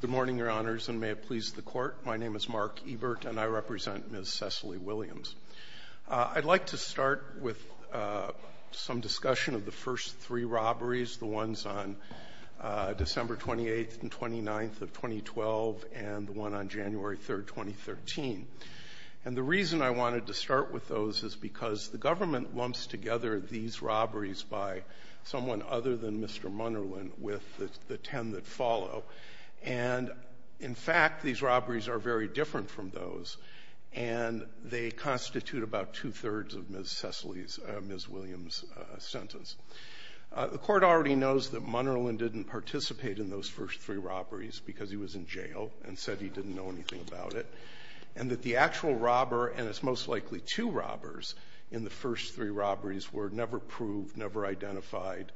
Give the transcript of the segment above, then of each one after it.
Good morning, Your Honors, and may it please the Court, my name is Mark Ebert and I represent Ms. Sesley Williams. I'd like to start with some discussion of the first three robberies, the ones on December 28th and 29th of 2012 and the one on January 3rd, 2013. And the reason I wanted to start with those is because the government lumps together these robberies by someone other than Mr. Munerlin with the ten that follow, and in fact these robberies are very different from those and they constitute about two-thirds of Ms. Sesley's, Ms. Williams' sentence. The Court already knows that Munerlin didn't participate in those first three robberies because he was in jail and said he didn't know anything about it, and that the actual robber, and it's most likely two robbers, in the first three robberies were never proved, never identified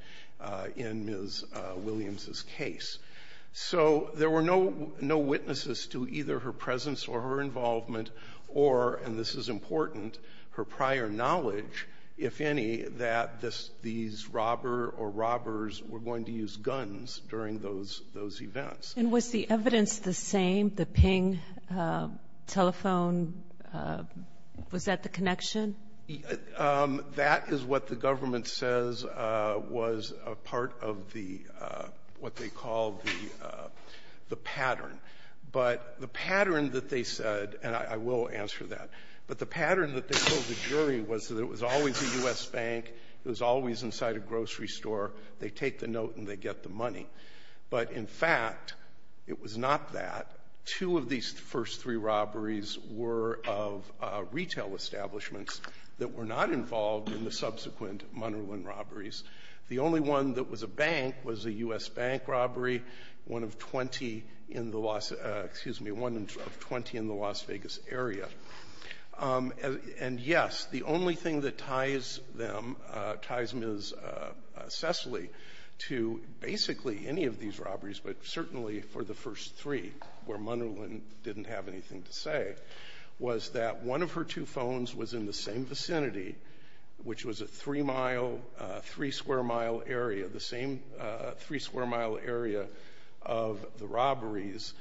in Ms. Williams' case. So there were no witnesses to either her presence or her involvement or, and this is important, her prior knowledge, if any, that these robber or robbers were going to use guns during those events. And was the evidence the same, the ping telephone, was that the connection? That is what the government says was a part of the, what they call the pattern. But the pattern that they said, and I will answer that, but the pattern that they told the jury was that it was always a U.S. bank, it was always inside a grocery store, they take the note and they get the money. But in fact, it was not that. Two of these first three robberies were of retail establishments that were not involved in the subsequent Munerlin robberies. The only one that was a bank was a U.S. bank robbery, one of 20 in the Las, excuse me, one of 20 in the Las Vegas area. And yes, the only thing that ties them, ties Ms. Cecily to basically any of these robberies, but certainly for the first three, where Munerlin didn't have anything to say, was that one of her two phones was in the same vicinity, which was a three-square-mile area, the same three-square-mile area of the robberies,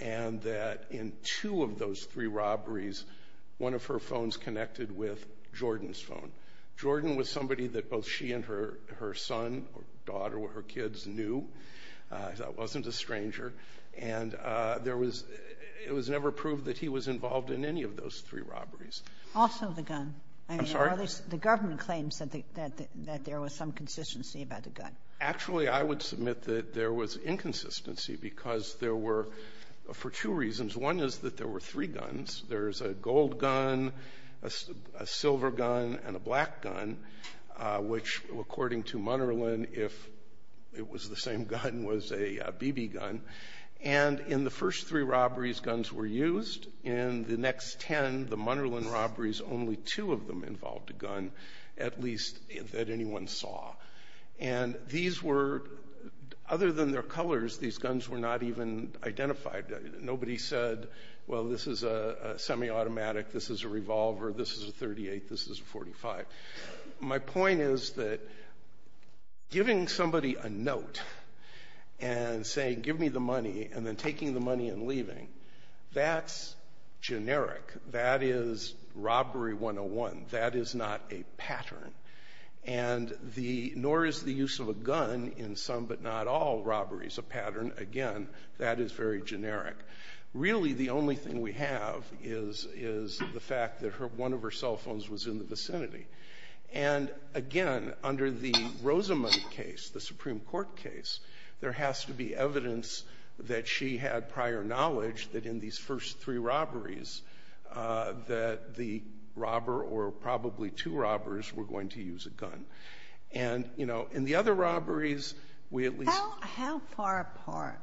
and that in two of those three robberies, one of her phones connected with Jordan's phone. Jordan was somebody that both she and her son or daughter or her kids knew. That wasn't a stranger. And it was never proved that he was involved in any of those three robberies. Also the gun. I'm sorry? The government claims that there was some consistency about the gun. Actually, I would submit that there was inconsistency because there were, for two reasons. One is that there were three guns. There's a gold gun, a silver gun, and a black gun, which according to Munerlin, if it was the same gun, was a BB gun. And in the first three robberies, guns were used. In the next ten, the Munerlin robberies, only two of them involved a gun, at least that anyone saw. And these were, other than their colors, these guns were not even identified. Nobody said, well, this is a semi-automatic, this is a revolver, this is a .38, this is a .45. My point is that giving somebody a note and saying give me the money and then taking the money and leaving, that's generic. That is robbery 101. That is not a pattern. And nor is the use of a gun in some but not all robberies a pattern. Again, that is very generic. Really the only thing we have is the fact that one of her cell phones was in the vicinity. And again, under the Rosamond case, the Supreme Court case, there has to be evidence that she had prior knowledge that in these first three robberies that the robber or probably two robbers were going to use a gun. And, you know, in the other robberies, we at least How far apart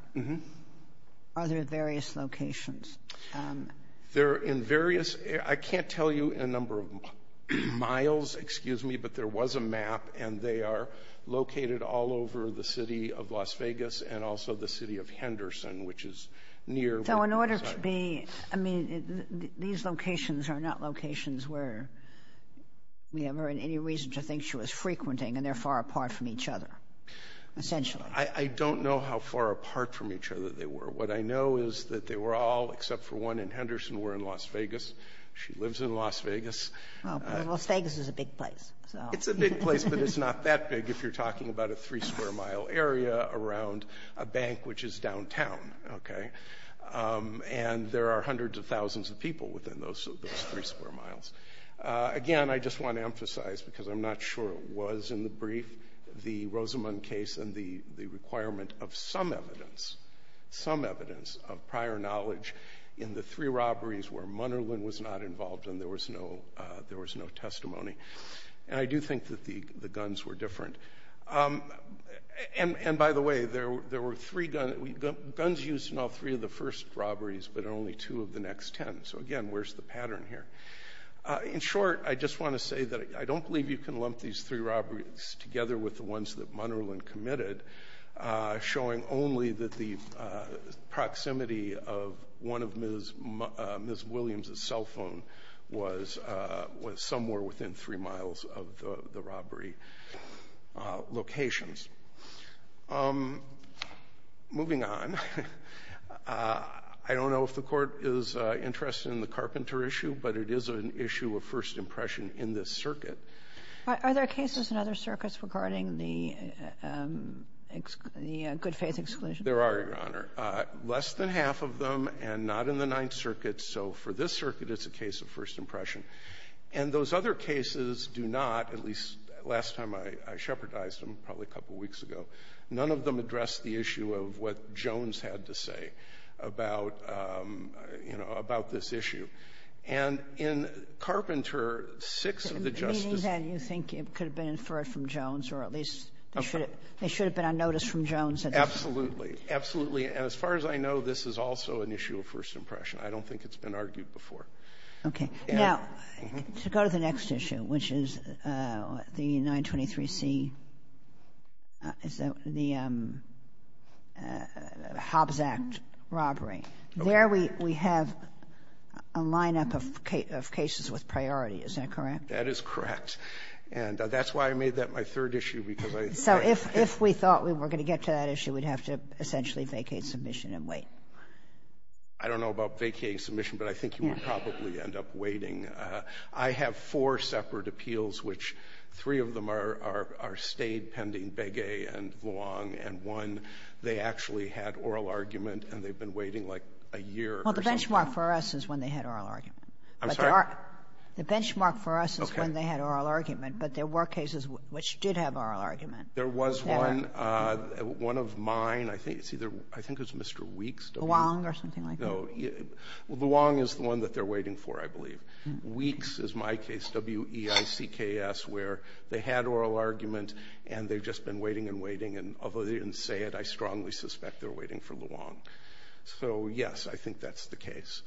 are their various locations? They're in various, I can't tell you a number of miles, excuse me, but there was a map and they are located all over the city of Las Vegas and also the city of Henderson, which is near. So in order to be, I mean, these locations are not locations where we have any reason to think she was frequenting and they're far apart from each other, essentially. I don't know how far apart from each other they were. What I know is that they were all, except for one in Henderson, were in Las Vegas. She lives in Las Vegas. Las Vegas is a big place. It's a big place, but it's not that big if you're talking about a three-square-mile area around a bank, which is downtown, okay? And there are hundreds of thousands of people within those three-square-miles. Again, I just want to emphasize, because I'm not sure it was in the brief, the Rosamond case and the requirement of some evidence, some evidence of prior knowledge in the three robberies where Munnerlyn was not involved and there was no testimony. And I do think that the guns were different. And, by the way, there were three guns used in all three of the first robberies but only two of the next ten. So, again, where's the pattern here? In short, I just want to say that I don't believe you can lump these three robberies together with the ones that Munnerlyn committed, showing only that the proximity of one of Ms. Williams' cell phones was somewhere within three miles of the robbery locations. Moving on, I don't know if the Court is interested in the carpenter issue, but it is an issue of first impression in this circuit. Are there cases in other circuits regarding the good-faith exclusion? There are, Your Honor. Less than half of them and not in the Ninth Circuit. So for this circuit, it's a case of first impression. And those other cases do not, at least last time I shepherdized them, probably a couple weeks ago, none of them address the issue of what Jones had to say about this issue. And in Carpenter, six of the justices ---- You think it could have been inferred from Jones or at least they should have been on notice from Jones? Absolutely. Absolutely. And as far as I know, this is also an issue of first impression. I don't think it's been argued before. Okay. Now, to go to the next issue, which is the 923C, the Hobbs Act robbery. Okay. We have a lineup of cases with priority. Is that correct? That is correct. And that's why I made that my third issue, because I ---- So if we thought we were going to get to that issue, we'd have to essentially vacate submission and wait. I don't know about vacating submission, but I think you would probably end up waiting. I have four separate appeals, which three of them are stayed pending, Begay and Vuong, and one, they actually had oral argument and they've been waiting like a year or something. Well, the benchmark for us is when they had oral argument. I'm sorry? The benchmark for us is when they had oral argument, but there were cases which did have oral argument. There was one, one of mine, I think it's either ---- I think it was Mr. Weeks. Vuong or something like that. No. Vuong is the one that they're waiting for, I believe. Weeks is my case, W-E-I-C-K-S, where they had oral argument and they've just been waiting and waiting, and although they didn't say it, I strongly suspect they're waiting for Luong. So, yes, I think that's the case.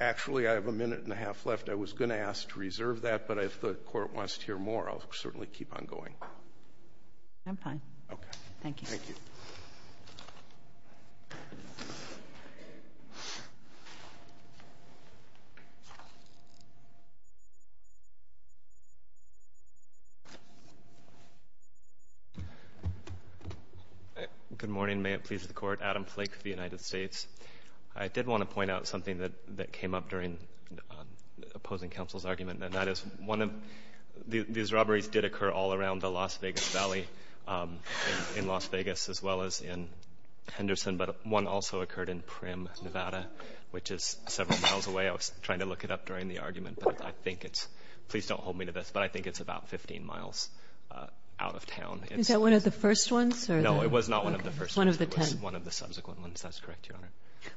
Actually, I have a minute and a half left. I was going to ask to reserve that, but if the Court wants to hear more, I'll certainly keep on going. I'm fine. Okay. Thank you. Thank you. Good morning. May it please the Court. Adam Flake for the United States. I did want to point out something that came up during opposing counsel's argument, and that is one of these robberies did occur all around the Las Vegas Valley in Las Vegas as well as in Henderson, but one also occurred in Prim, Nevada, which is several miles away. I was trying to look it up during the argument, but I think it's ---- please don't hold me to this, but I think it's about 15 miles out of town. Is that one of the first ones? No, it was not one of the first ones. One of the ten. It was one of the subsequent ones. That's correct, Your Honor.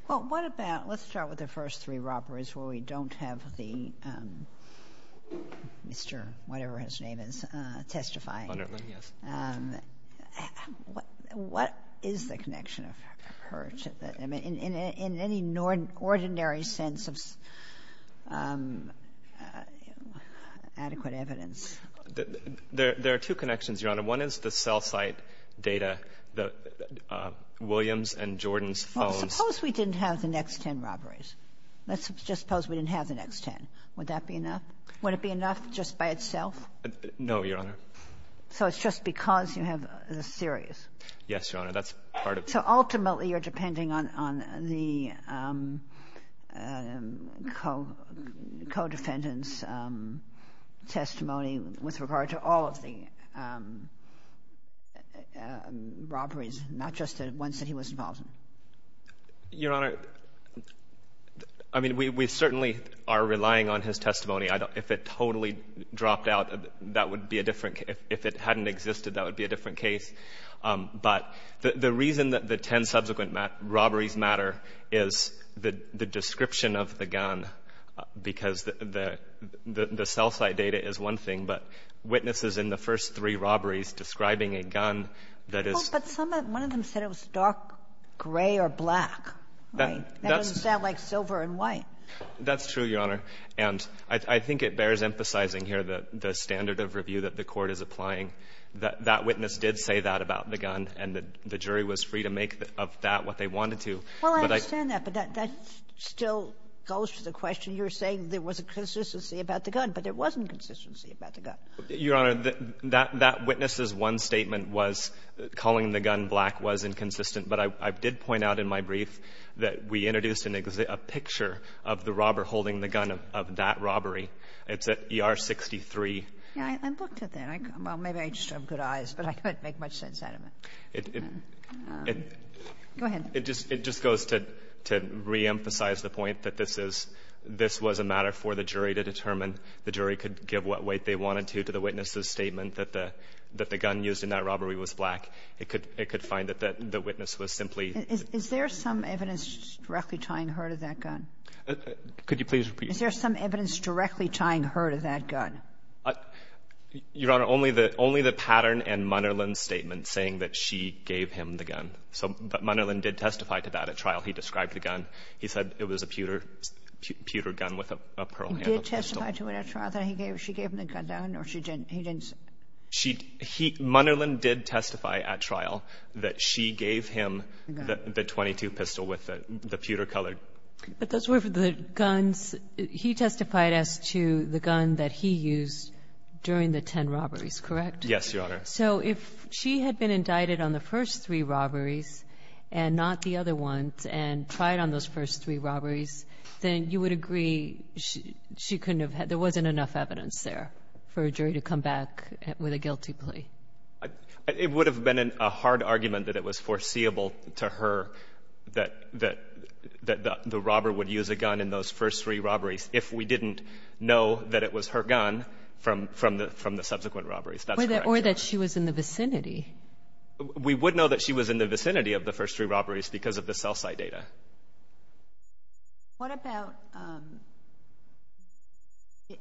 Well, what about ---- let's start with the first three robberies where we don't have the Mr. whatever his name is testifying. Bunderland, yes. What is the connection of her to that? I mean, in any ordinary sense of adequate evidence. There are two connections, Your Honor. One is the cell site data, the Williams and Jordan's phones. Well, suppose we didn't have the next ten robberies. Let's just suppose we didn't have the next ten. Would that be enough? Would it be enough just by itself? No, Your Honor. So it's just because you have the series? Yes, Your Honor. That's part of it. So ultimately you're depending on the co-defendant's testimony with regard to all of the robberies, not just the ones that he was involved in? Your Honor, I mean, we certainly are relying on his testimony. If it totally dropped out, that would be a different case. If it hadn't existed, that would be a different case. But the reason that the ten subsequent robberies matter is the description of the gun, because the cell site data is one thing, but witnesses in the first three robberies describing a gun that is ---- Well, but one of them said it was dark gray or black, right? That doesn't sound like silver and white. That's true, Your Honor. And I think it bears emphasizing here the standard of review that the Court is applying. That witness did say that about the gun, and the jury was free to make of that what they wanted to. Well, I understand that, but that still goes to the question. You're saying there was a consistency about the gun, but there wasn't a consistency about the gun. Your Honor, that witness's one statement was calling the gun black was inconsistent. But I did point out in my brief that we introduced a picture of the robber holding the gun of that robbery. It's at ER 63. Yeah. I looked at that. Well, maybe I just don't have good eyes, but I couldn't make much sense out of it. Go ahead. It just goes to reemphasize the point that this was a matter for the jury to determine. The jury could give what weight they wanted to to the witness's statement that the gun used in that robbery was black. It could find that the witness was simply ---- Is there some evidence directly tying her to that gun? Could you please repeat? Is there some evidence directly tying her to that gun? Your Honor, only the pattern in Munderland's statement saying that she gave him the gun. So Munderland did testify to that at trial. He described the gun. He said it was a pewter gun with a pearl handle. He did testify to it at trial that she gave him the gun, or he didn't say? Munderland did testify at trial that she gave him the .22 pistol with the pewter color. But those were the guns. He testified as to the gun that he used during the ten robberies, correct? Yes, Your Honor. So if she had been indicted on the first three robberies and not the other ones and tried on those first three robberies, then you would agree she couldn't have had ---- there wasn't enough evidence there for a jury to come back with a guilty plea. It would have been a hard argument that it was foreseeable to her that the robber would use a gun in those first three robberies if we didn't know that it was her gun from the subsequent robberies. That's correct, Your Honor. Or that she was in the vicinity. We would know that she was in the vicinity of the first three robberies because of the cell site data. What about ----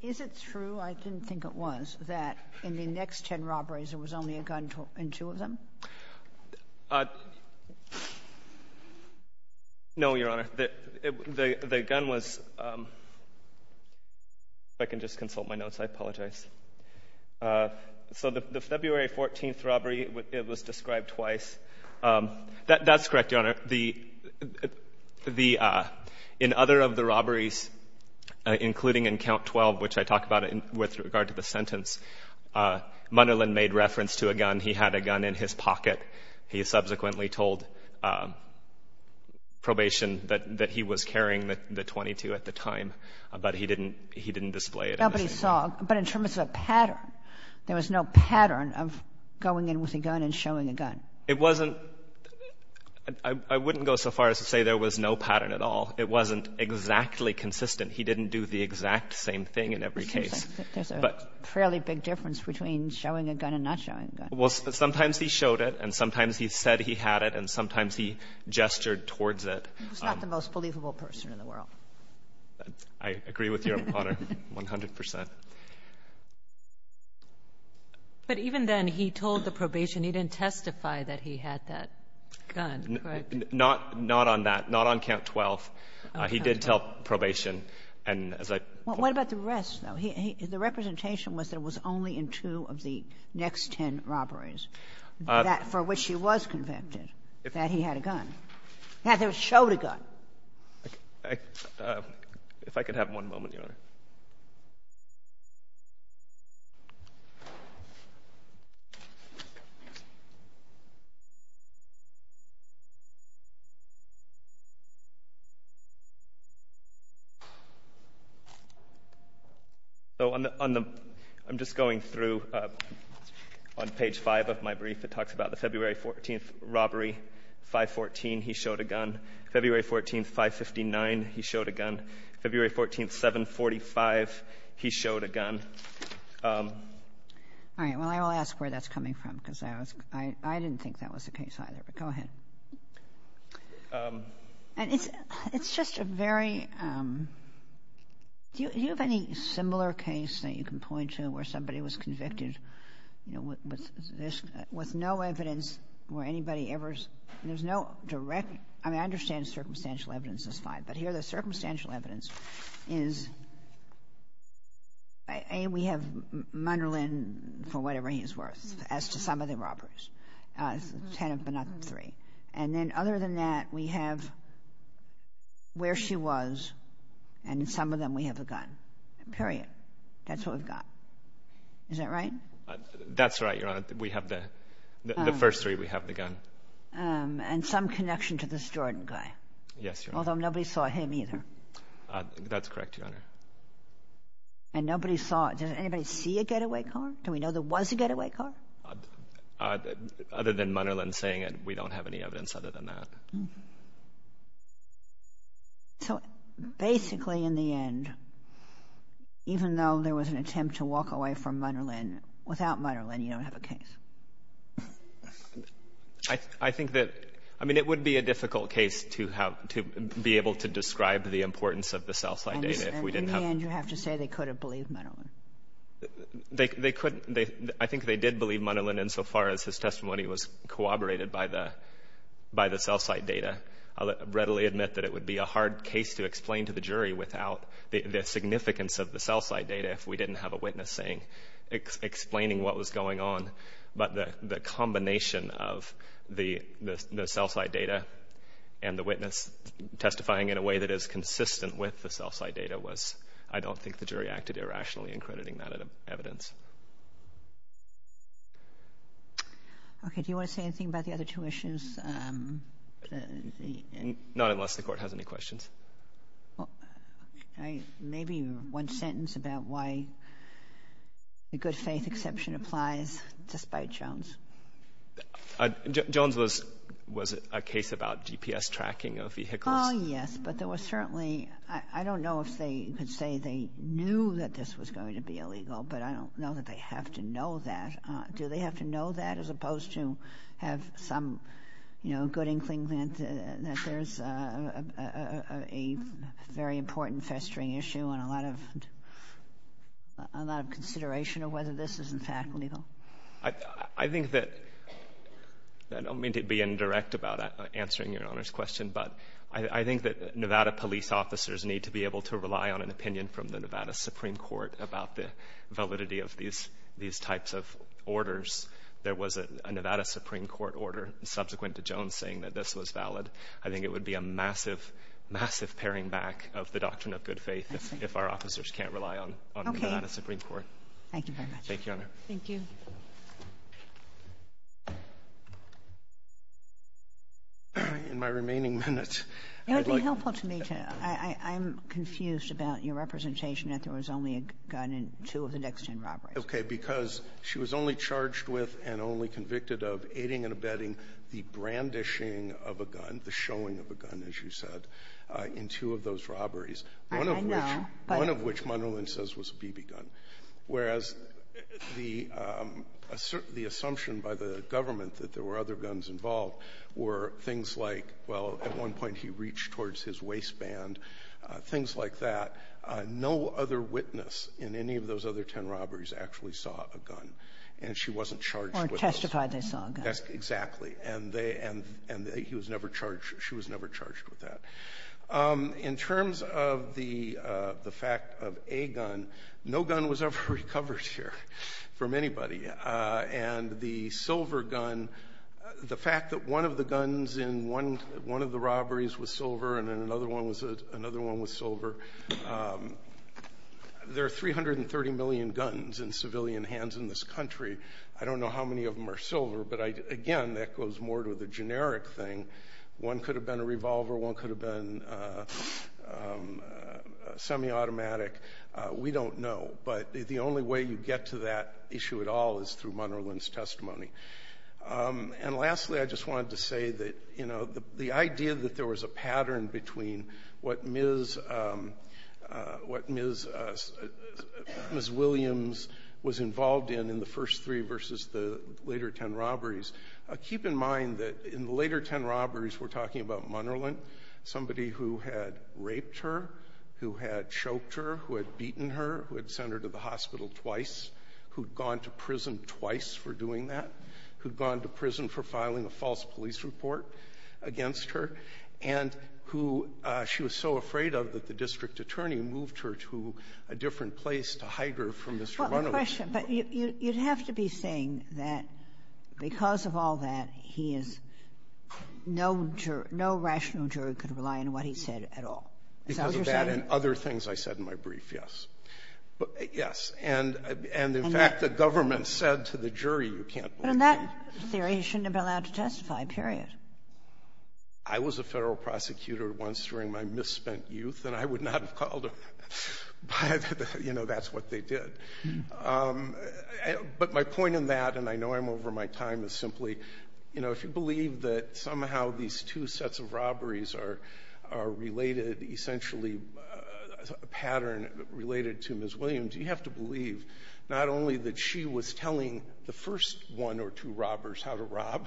is it true, I didn't think it was, that in the next ten robberies there was only a gun in two of them? No, Your Honor. The gun was ---- if I can just consult my notes, I apologize. So the February 14th robbery, it was described twice. That's correct, Your Honor. The ---- in other of the robberies, including in Count 12, which I talk about with regard to the sentence, Munderland made reference to a gun. He had a gun in his pocket. He subsequently told probation that he was carrying the .22 at the time, but he didn't display it. Nobody saw. But in terms of a pattern, there was no pattern of going in with a gun and showing a gun. It wasn't ---- I wouldn't go so far as to say there was no pattern at all. It wasn't exactly consistent. He didn't do the exact same thing in every case. But there's a fairly big difference between showing a gun and not showing a gun. Well, sometimes he showed it, and sometimes he said he had it, and sometimes he gestured towards it. He was not the most believable person in the world. I agree with you, Your Honor, 100 percent. But even then, he told the probation he didn't testify that he had that gun, correct? Not on that. Not on Count 12. He did tell probation. And as I ---- Well, what about the rest, though? The representation was that it was only in two of the next ten robberies that for which he was convicted that he had a gun. He had to show the gun. If I could have one moment, Your Honor. So I'm just going through on page 5 of my brief. It talks about the February 14th robbery, 514, he showed a gun. February 14th, 559, he showed a gun. February 14th, 745, he showed a gun. All right. Well, I will ask where that's coming from because I didn't think that was the case either. But go ahead. It's just a very ---- Do you have any similar case that you can point to where somebody was convicted with no evidence where anybody ever ---- There's no direct ---- I mean, I understand circumstantial evidence is fine. But here the circumstantial evidence is A, we have Munderland for whatever he is worth as to some of the robberies, ten if not three. And then other than that, we have where she was and some of them we have a gun, period. That's what we've got. Is that right? That's right, Your Honor. We have the first three, we have the gun. And some connection to this Jordan guy. Yes, Your Honor. Although nobody saw him either. That's correct, Your Honor. And nobody saw it. Did anybody see a getaway car? Do we know there was a getaway car? Other than Munderland saying it, we don't have any evidence other than that. So basically in the end, even though there was an attempt to walk away from Munderland, without Munderland you don't have a case. I think that it would be a difficult case to be able to describe the importance of the cell site data. In the end you have to say they could have believed Munderland. I think they did believe Munderland insofar as his testimony was corroborated by the cell site data. I'll readily admit that it would be a hard case to explain to the jury without the significance of the cell site data if we didn't have a witness explaining what was going on. But the combination of the cell site data and the witness testifying in a way that is consistent with the cell site data was, I don't think the jury acted irrationally in crediting that evidence. Okay. Do you want to say anything about the other two issues? Not unless the Court has any questions. Well, maybe one sentence about why the good faith exception applies, despite Jones. Jones was a case about GPS tracking of vehicles. Oh, yes. But there was certainly, I don't know if they could say they knew that this was going to be illegal, but I don't know that they have to know that. Do they have to know that as opposed to have some, you know, good inkling that there's a very important festering issue and a lot of consideration of whether this is, in fact, illegal? I think that, I don't mean to be indirect about answering Your Honor's question, but I think that Nevada police officers need to be able to rely on an opinion from the Nevada Supreme Court about the validity of these types of orders. There was a Nevada Supreme Court order subsequent to Jones saying that this was valid. I think it would be a massive, massive paring back of the doctrine of good faith if our officers can't rely on Nevada Supreme Court. Okay. Thank you very much. Thank you, Your Honor. Thank you. In my remaining minutes, I'd like to ---- It would be helpful to me to ---- I'm confused about your representation that there was only a gun in two of the next ten robberies. Okay. Because she was only charged with and only convicted of aiding and abetting the brandishing of a gun, the showing of a gun, as you said, in two of those robberies, one of which ---- I know, but ---- One of which Munderland says was a BB gun, whereas the assumption by the government that there were other guns involved were things like, well, at one point he reached towards his waistband, things like that. No other witness in any of those other ten robberies actually saw a gun, and she wasn't charged with those. Or testified they saw a gun. Exactly. And he was never charged, she was never charged with that. In terms of the fact of a gun, no gun was ever recovered here from anybody. And the silver gun, the fact that one of the guns in one of the robberies was silver and another one was silver, there are 330 million guns in civilian hands in this country. I don't know how many of them are silver, but again, that goes more to the generic thing. One could have been a revolver, one could have been semi-automatic, we don't know. But the only way you get to that issue at all is through Munderland's testimony. And lastly, I just wanted to say that the idea that there was a pattern between what Ms. Williams was involved in in the first three versus the later ten robberies. Keep in mind that in the later ten robberies, we're talking about Munderland, somebody who had raped her, who had choked her, who had beaten her, who had sent her to the hospital twice, who'd gone to prison twice for doing that, who'd gone to prison for filing a false police report against her, and who she was so afraid of that the district attorney moved her to a different place to hide her from Mr. Reynolds. Kagan. But you'd have to be saying that because of all that, he is no juror, no rational jury could rely on what he said at all. Is that what you're saying? Because of that and other things I said in my brief, yes. Yes. And in fact, the government said to the jury, you can't believe me. But in that theory, he shouldn't have been allowed to testify, period. I was a Federal prosecutor once during my misspent youth, and I would not have called him out, but, you know, that's what they did. But my point in that, and I know I'm over my time, is simply, you know, if you believe that somehow these two sets of robberies are related, essentially a pattern related to Ms. Williams, you have to believe not only that she was telling the first one or two robbers how to rob,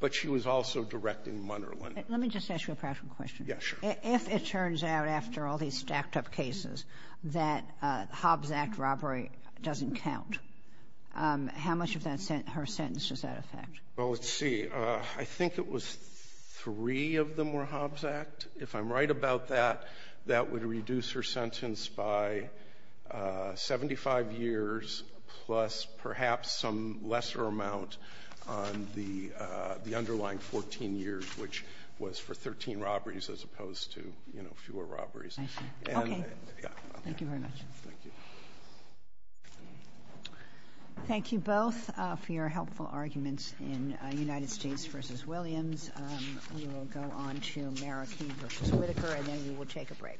but she was also directing Munderland. Let me just ask you a practical question. Yes, sure. If it turns out after all these stacked-up cases that Hobbs Act robbery doesn't count, how much of that sentence, her sentence, does that affect? Well, let's see. I think it was three of them were Hobbs Act. If I'm right about that, that would reduce her sentence by 75 years, plus perhaps some lesser amount on the underlying 14 years, which was for 13 robberies as opposed to, you know, fewer robberies. I see. Okay. Thank you very much. Thank you. Thank you both for your helpful arguments in United States v. Williams. We will go on to Marroquin v. Whitaker, and then we will take a break.